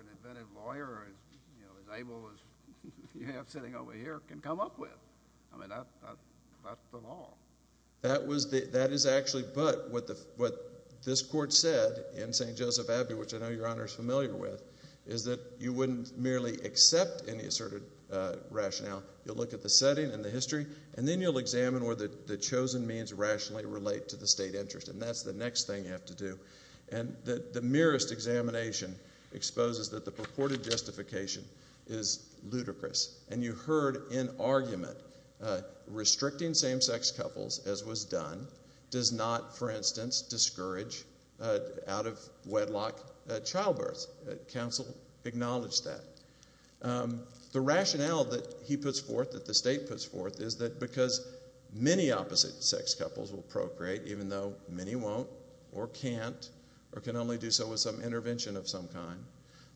an inventive lawyer as able as you have sitting over here can come up with. I mean, that's the law. That is actually but what this court said in St. Joseph Abbey, which I know Your Honor is familiar with, is that you wouldn't merely accept any asserted rationale. You'll look at the setting and the history, and then you'll examine whether the chosen means rationally relate to the state interest, and that's the next thing you have to do. And the merest examination exposes that the purported justification is ludicrous, and you heard in argument restricting same-sex couples as was done does not, for instance, discourage out-of-wedlock childbirth. Council acknowledged that. The rationale that he puts forth, that the state puts forth, is that because many opposite-sex couples will procreate even though many won't or can't or can only do so with some intervention of some kind,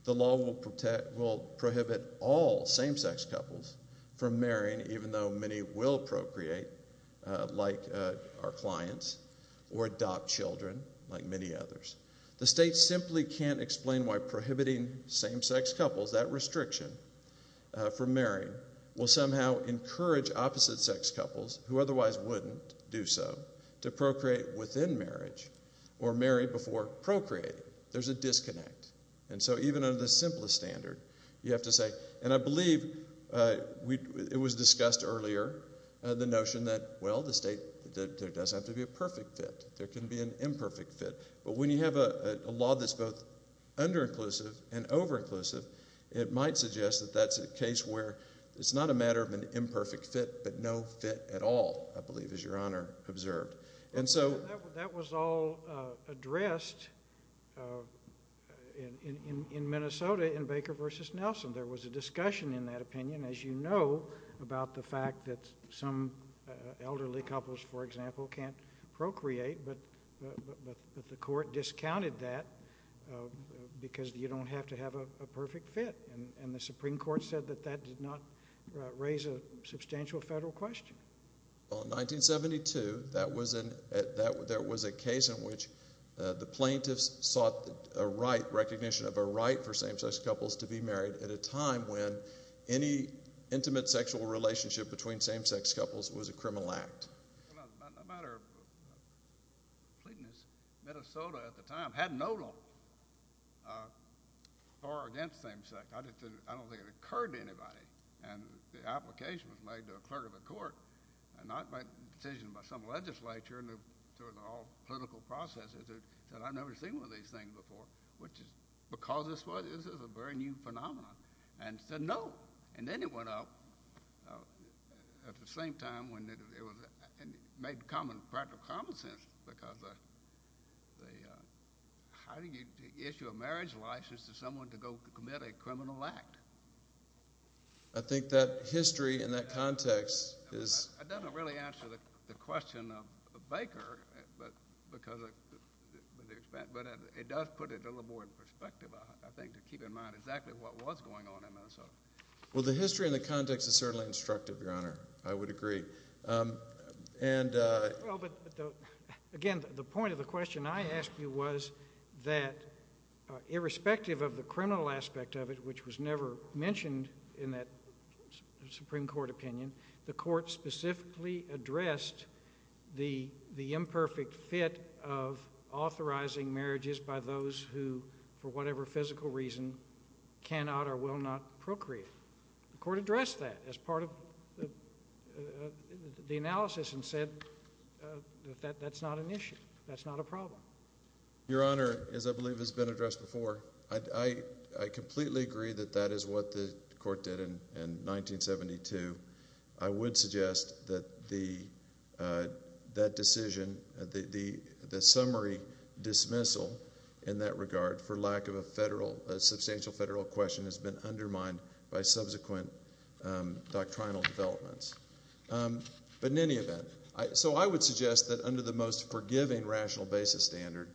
the law will prohibit all same-sex couples from marrying even though many will procreate, like our clients, or adopt children, like many others. The state simply can't explain why prohibiting same-sex couples, that restriction for marrying, will somehow encourage opposite-sex couples, who otherwise wouldn't do so, to procreate within marriage or marry before procreating. There's a disconnect. And so even under the simplest standard, you have to say, and I believe it was discussed earlier, the notion that, well, the state does have to be a perfect fit. There can be an imperfect fit. But when you have a law that's both under-inclusive and over-inclusive, it might suggest that that's a case where it's not a matter of an imperfect fit but no fit at all, I believe, as Your Honor observed. That was all addressed in Minnesota in Baker v. Nelson. There was a discussion in that opinion, as you know, about the fact that some elderly couples, for example, can't procreate, but the court discounted that because you don't have to have a perfect fit. And the Supreme Court said that that did not raise a substantial federal question. Well, in 1972, there was a case in which the plaintiffs sought a right, recognition of a right for same-sex couples to be married at a time when any intimate sexual relationship between same-sex couples was a criminal act. A matter of completeness, Minnesota at the time had no law for or against same-sex. I don't think it occurred to anybody. And the application was made to a clerk of the court, and not by a decision by some legislature and through all political processes, that I'd never seen one of these things before, which is because this was a very new phenomenon, and said no. And then it went up at the same time when it made practical common sense, because how do you issue a marriage license to someone to go commit a criminal act? I think that history in that context is— It doesn't really answer the question of Baker, but it does put it a little more in perspective, I think, to keep in mind exactly what was going on in Minnesota. Well, the history and the context is certainly instructive, Your Honor. I would agree. Again, the point of the question I asked you was that, irrespective of the criminal aspect of it, which was never mentioned in that Supreme Court opinion, the court specifically addressed the imperfect fit of authorizing marriages by those who, for whatever physical reason, cannot or will not procreate. The court addressed that as part of the analysis and said that that's not an issue. That's not a problem. Your Honor, as I believe has been addressed before, I completely agree that that is what the court did in 1972. I would suggest that that decision, the summary dismissal in that regard, for lack of a substantial federal question, has been undermined by subsequent doctrinal developments. But in any event, so I would suggest that under the most forgiving rational basis standard,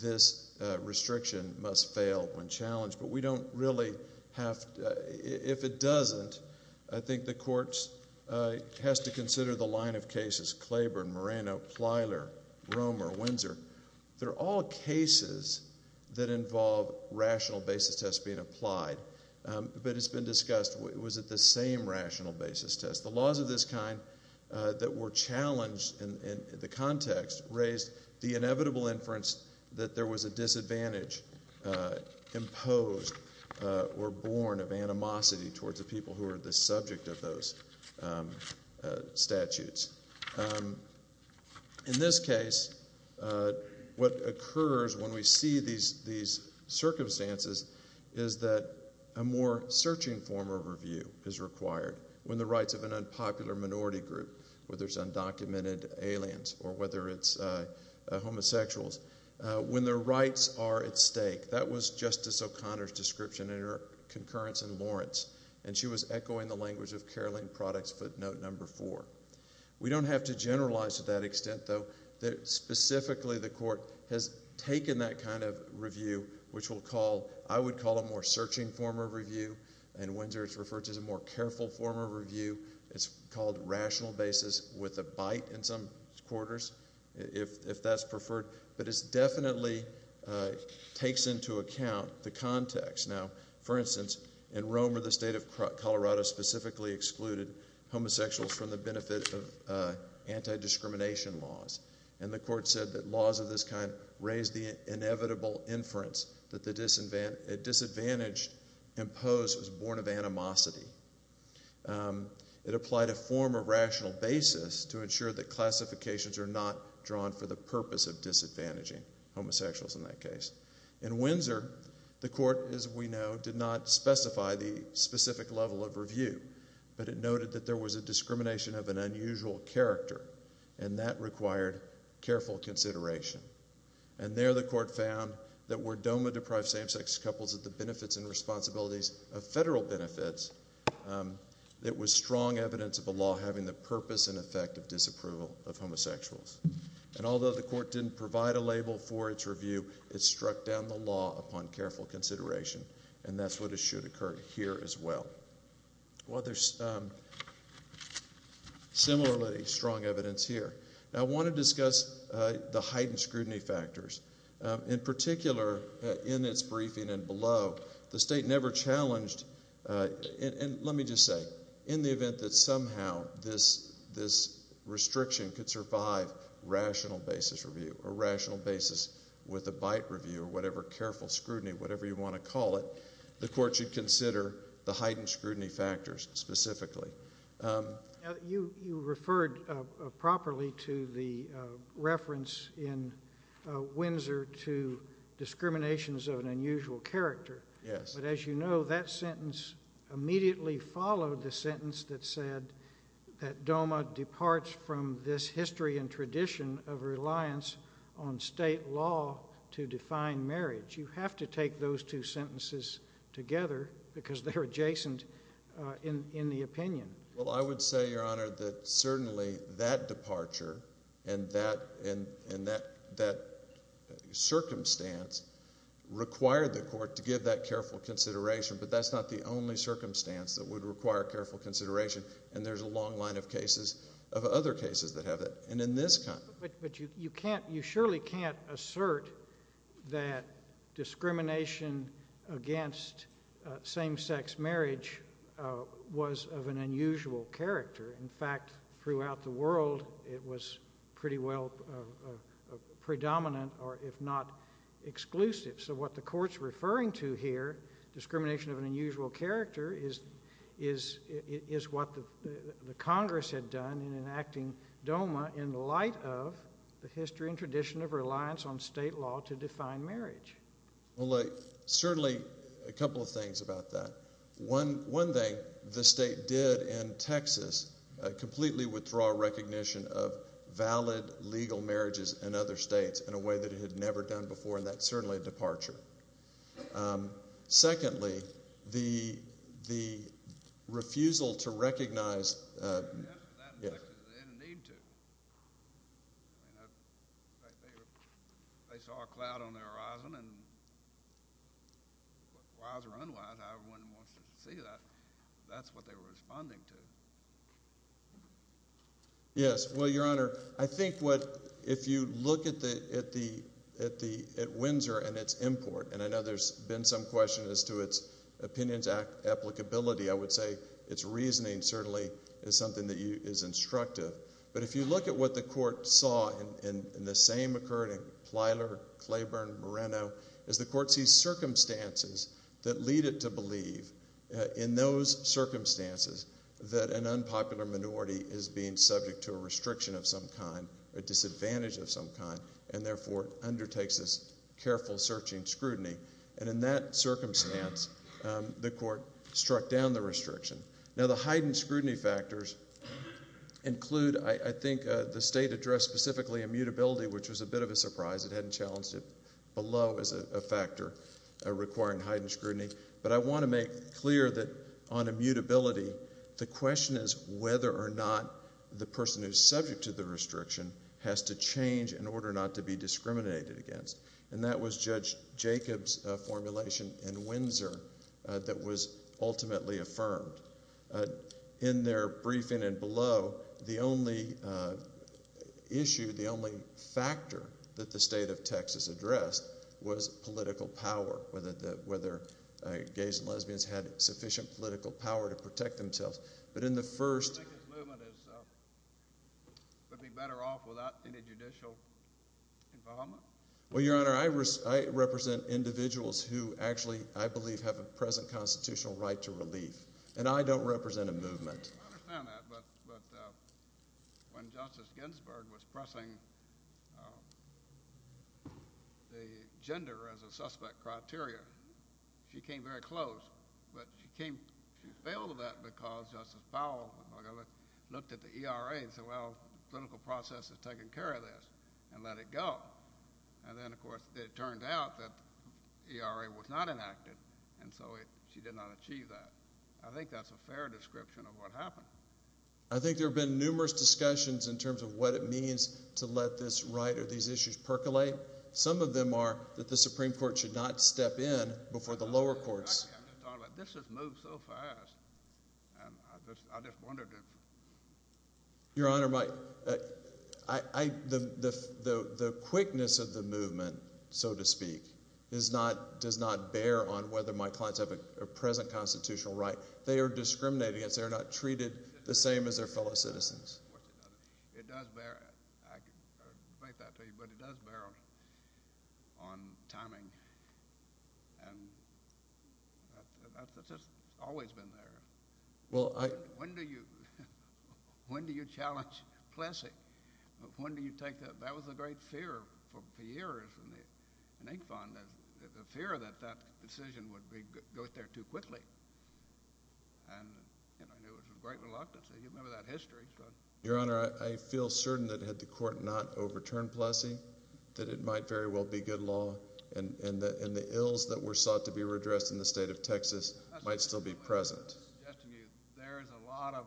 this restriction must fail when challenged. But we don't really have— If it doesn't, I think the courts has to consider the line of cases, Claiborne, Moreno, Plyler, Romer, Windsor. They're all cases that involve rational basis tests being applied, but it's been discussed. Was it the same rational basis test? The laws of this kind that were challenged in the context raised the inevitable inference that there was a disadvantage imposed or born of animosity towards the people who are the subject of those statutes. In this case, what occurs when we see these circumstances is that a more searching form of review is required when the rights of an unpopular minority group, whether it's undocumented aliens or whether it's homosexuals, when their rights are at stake. That was Justice O'Connor's description in her concurrence in Lawrence, and she was echoing the language of Carolyn Products' footnote number four. We don't have to generalize to that extent, though, that specifically the court has taken that kind of review, which I would call a more searching form of review. In Windsor, it's referred to as a more careful form of review. It's called rational basis with a bite in some quarters, if that's preferred. But it definitely takes into account the context. Now, for instance, in Rome or the state of Colorado specifically excluded homosexuals from the benefit of anti-discrimination laws. And the court said that laws of this kind raise the inevitable inference that the disadvantage imposed was born of animosity. It applied a form of rational basis to ensure that classifications are not drawn for the purpose of disadvantaging homosexuals in that case. In Windsor, the court, as we know, did not specify the specific level of review, but it noted that there was a discrimination of an unusual character, and that required careful consideration. And there the court found that were DOMA-deprived same-sex couples at the benefits and responsibilities of federal benefits, it was strong evidence of a law having the purpose and effect of disapproval of homosexuals. And although the court didn't provide a label for its review, it struck down the law upon careful consideration, and that's what should occur here as well. Well, there's similarly strong evidence here. Now, I want to discuss the heightened scrutiny factors. In particular, in its briefing and below, the state never challenged, and let me just say, in the event that somehow this restriction could survive rational basis review or rational basis with a bite review or whatever careful scrutiny, whatever you want to call it, the court should consider the heightened scrutiny factors specifically. You referred properly to the reference in Windsor to discriminations of an unusual character. Yes. But as you know, that sentence immediately followed the sentence that said that DOMA departs from this history and tradition of reliance on state law to define marriage. But you have to take those two sentences together because they're adjacent in the opinion. Well, I would say, Your Honor, that certainly that departure and that circumstance required the court to give that careful consideration, but that's not the only circumstance that would require careful consideration, and there's a long line of cases, of other cases that have it, and in this kind. But you surely can't assert that discrimination against same-sex marriage was of an unusual character. In fact, throughout the world, it was pretty well predominant or, if not, exclusive. So what the court's referring to here, discrimination of an unusual character, is what the Congress had done in enacting DOMA in light of the history and tradition of reliance on state law to define marriage. Well, certainly a couple of things about that. One thing the state did in Texas, completely withdraw recognition of valid legal marriages in other states in a way that it had never done before, and that's certainly a departure. Secondly, the refusal to recognize… Yes, that in Texas, they didn't need to. In fact, they saw a cloud on the horizon, and wise or unwise, however one wants to see that, that's what they were responding to. Yes, well, Your Honor, I think what, if you look at Windsor and its import, and I know there's been some questions as to its opinions applicability, I would say its reasoning certainly is something that is instructive. But if you look at what the court saw in the same occurring, Plyler, Claiborne, Moreno, is the court sees circumstances that lead it to believe in those circumstances that an unpopular minority is being subject to a restriction of some kind, a disadvantage of some kind, and therefore undertakes this careful searching scrutiny. And in that circumstance, the court struck down the restriction. Now, the heightened scrutiny factors include, I think, the state addressed specifically immutability, which was a bit of a surprise. It hadn't challenged it below as a factor requiring heightened scrutiny. But I want to make clear that on immutability, the question is whether or not the person who's subject to the restriction has to change in order not to be discriminated against. And that was Judge Jacob's formulation in Windsor that was ultimately affirmed. In their briefing and below, the only issue, the only factor that the state of Texas addressed was political power, whether gays and lesbians had sufficient political power to protect themselves. But in the first— Do you think this movement would be better off without any judicial involvement? Well, Your Honor, I represent individuals who actually, I believe, have a present constitutional right to relief. And I don't represent a movement. I understand that. But when Justice Ginsburg was pressing the gender as a suspect criteria, she came very close. But she came—she failed that because Justice Powell looked at the ERA and said, well, the clinical process has taken care of this and let it go. And then, of course, it turned out that the ERA was not enacted, and so she did not achieve that. I think that's a fair description of what happened. I think there have been numerous discussions in terms of what it means to let this right or these issues percolate. Some of them are that the Supreme Court should not step in before the lower courts. This has moved so fast. I just wondered if— Your Honor, the quickness of the movement, so to speak, does not bear on whether my clients have a present constitutional right. They are discriminated against. They are not treated the same as their fellow citizens. It does bear—I can debate that to you, but it does bear on timing. And that's just always been there. Well, I— When do you—when do you challenge Plessy? When do you take that? That was a great fear for years in Incfon, the fear that that decision would go there too quickly. And it was a great reluctance. You remember that history. Your Honor, I feel certain that had the Court not overturned Plessy that it might very well be good law and the ills that were sought to be redressed in the state of Texas might still be present. I was suggesting to you there is a lot of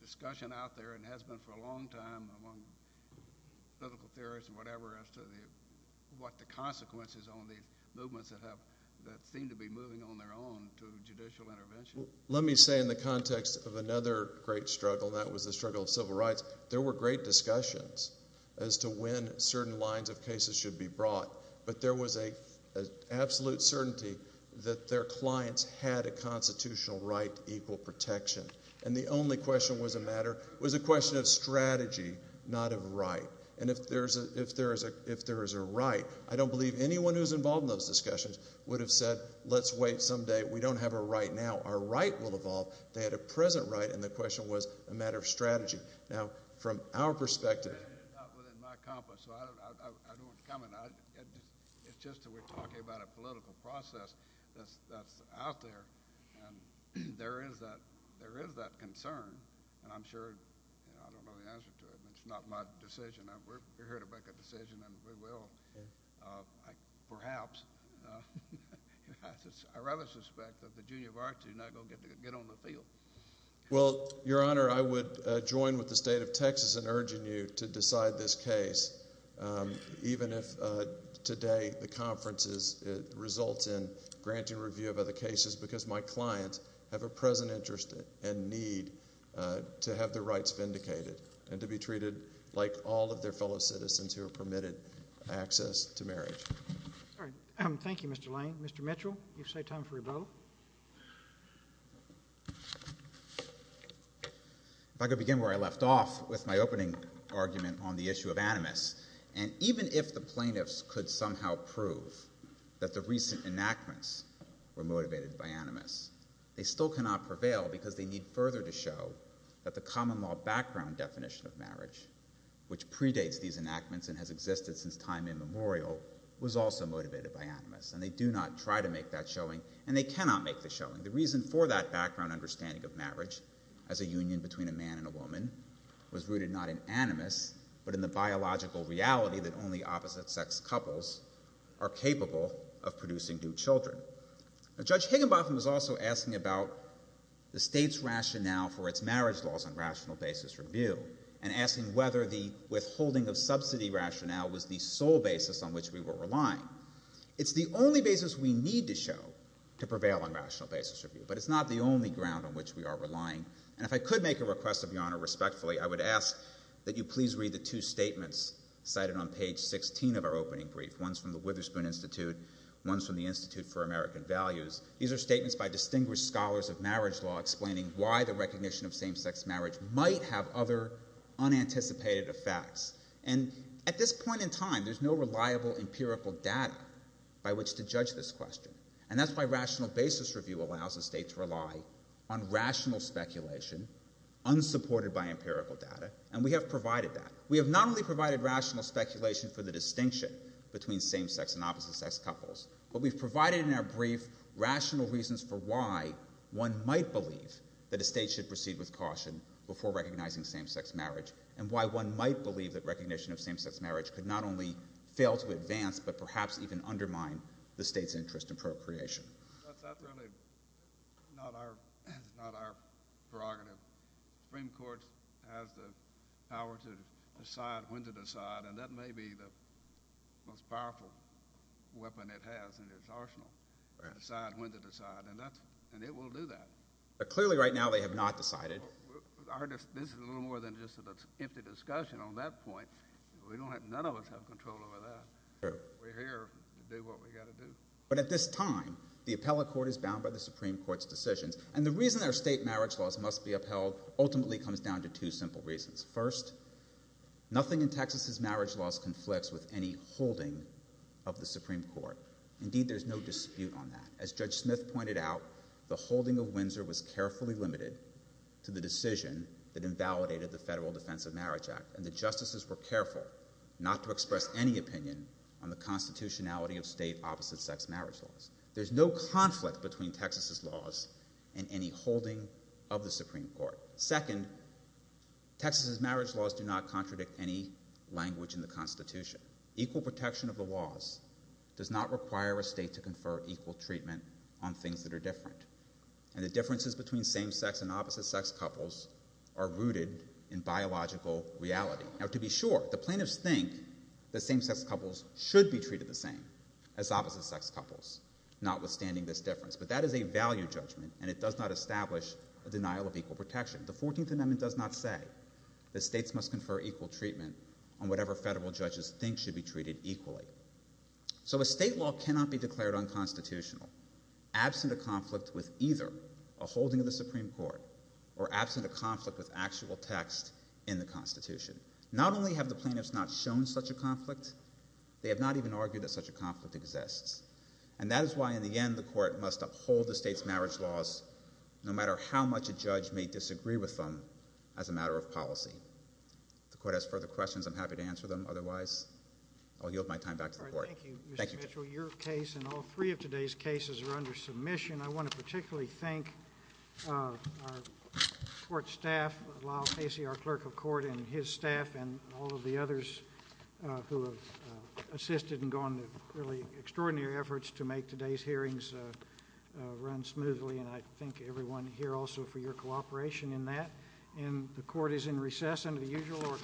discussion out there and has been for a long time among political theorists and whatever as to what the consequences on these movements that seem to be moving on their own to judicial intervention. Let me say in the context of another great struggle, and that was the struggle of civil rights, there were great discussions as to when certain lines of cases should be brought. But there was an absolute certainty that their clients had a constitutional right to equal protection. And the only question was a matter—was a question of strategy, not of right. And if there is a right, I don't believe anyone who is involved in those discussions would have said, let's wait some day. We don't have a right now. Our right will evolve. They had a present right, and the question was a matter of strategy. Now, from our perspective— It's not within my compass, so I don't want to comment. It's just that we're talking about a political process that's out there. And there is that concern, and I'm sure—I don't know the answer to it. It's not my decision. We're here to make a decision, and we will, perhaps. I rather suspect that the junior varsity is not going to get on the field. Well, Your Honor, I would join with the State of Texas in urging you to decide this case, even if today the conference results in granting review of other cases, because my clients have a present interest and need to have their rights vindicated and to be treated like all of their fellow citizens who are permitted access to marriage. Thank you, Mr. Lane. Mr. Mitchell, you've set time for your vote. If I could begin where I left off with my opening argument on the issue of animus. And even if the plaintiffs could somehow prove that the recent enactments were motivated by animus, they still cannot prevail because they need further to show that the common law background definition of marriage, which predates these enactments and has existed since time immemorial, was also motivated by animus, and they do not try to make that showing, and they cannot make the showing. The reason for that background understanding of marriage as a union between a man and a woman was rooted not in animus, but in the biological reality that only opposite-sex couples are capable of producing new children. Judge Higginbotham was also asking about the state's rationale for its marriage laws on rational basis review and asking whether the withholding of subsidy rationale was the sole basis on which we were relying. Now, it's the only basis we need to show to prevail on rational basis review, but it's not the only ground on which we are relying. And if I could make a request of Your Honor respectfully, I would ask that you please read the two statements cited on page 16 of our opening brief, ones from the Witherspoon Institute, ones from the Institute for American Values. These are statements by distinguished scholars of marriage law explaining why the recognition of same-sex marriage might have other unanticipated effects. And at this point in time, there's no reliable empirical data by which to judge this question, and that's why rational basis review allows a state to rely on rational speculation unsupported by empirical data, and we have provided that. We have not only provided rational speculation for the distinction between same-sex and opposite-sex couples, but we've provided in our brief rational reasons for why one might believe that a state should proceed with caution before recognizing same-sex marriage and why one might believe that recognition of same-sex marriage could not only fail to advance but perhaps even undermine the state's interest in procreation. That's really not our prerogative. The Supreme Court has the power to decide when to decide, and that may be the most powerful weapon it has in its arsenal to decide when to decide, and it will do that. But clearly right now they have not decided. This is a little more than just an empty discussion on that point. None of us have control over that. We're here to do what we've got to do. But at this time, the appellate court is bound by the Supreme Court's decisions, and the reason our state marriage laws must be upheld ultimately comes down to two simple reasons. First, nothing in Texas's marriage laws conflicts with any holding of the Supreme Court. Indeed, there's no dispute on that. As Judge Smith pointed out, the holding of Windsor was carefully limited to the decision that invalidated the Federal Defense of Marriage Act, and the justices were careful not to express any opinion on the constitutionality of state opposite-sex marriage laws. There's no conflict between Texas's laws and any holding of the Supreme Court. Second, Texas's marriage laws do not contradict any language in the Constitution. Equal protection of the laws does not require a state to confer equal treatment on things that are different, and the differences between same-sex and opposite-sex couples are rooted in biological reality. Now, to be sure, the plaintiffs think that same-sex couples should be treated the same as opposite-sex couples, notwithstanding this difference, but that is a value judgment, and it does not establish a denial of equal protection. The Fourteenth Amendment does not say that states must confer equal treatment on whatever federal judges think should be treated equally. So a state law cannot be declared unconstitutional, absent a conflict with either a holding of the Supreme Court or absent a conflict with actual text in the Constitution. Not only have the plaintiffs not shown such a conflict, they have not even argued that such a conflict exists. And that is why, in the end, the Court must uphold the state's marriage laws no matter how much a judge may disagree with them as a matter of policy. If the Court has further questions, I'm happy to answer them. Otherwise, I'll yield my time back to the Court. Thank you, Judge. All right. Thank you, Mr. Mitchell. Your case and all three of today's cases are under submission. I want to particularly thank our Court staff, Lyle Casey, our clerk of court, and his staff, and all of the others who have assisted and gone to really extraordinary efforts to make today's hearings run smoothly. And I thank everyone here also for your cooperation in that. And the Court is in recess under the usual order.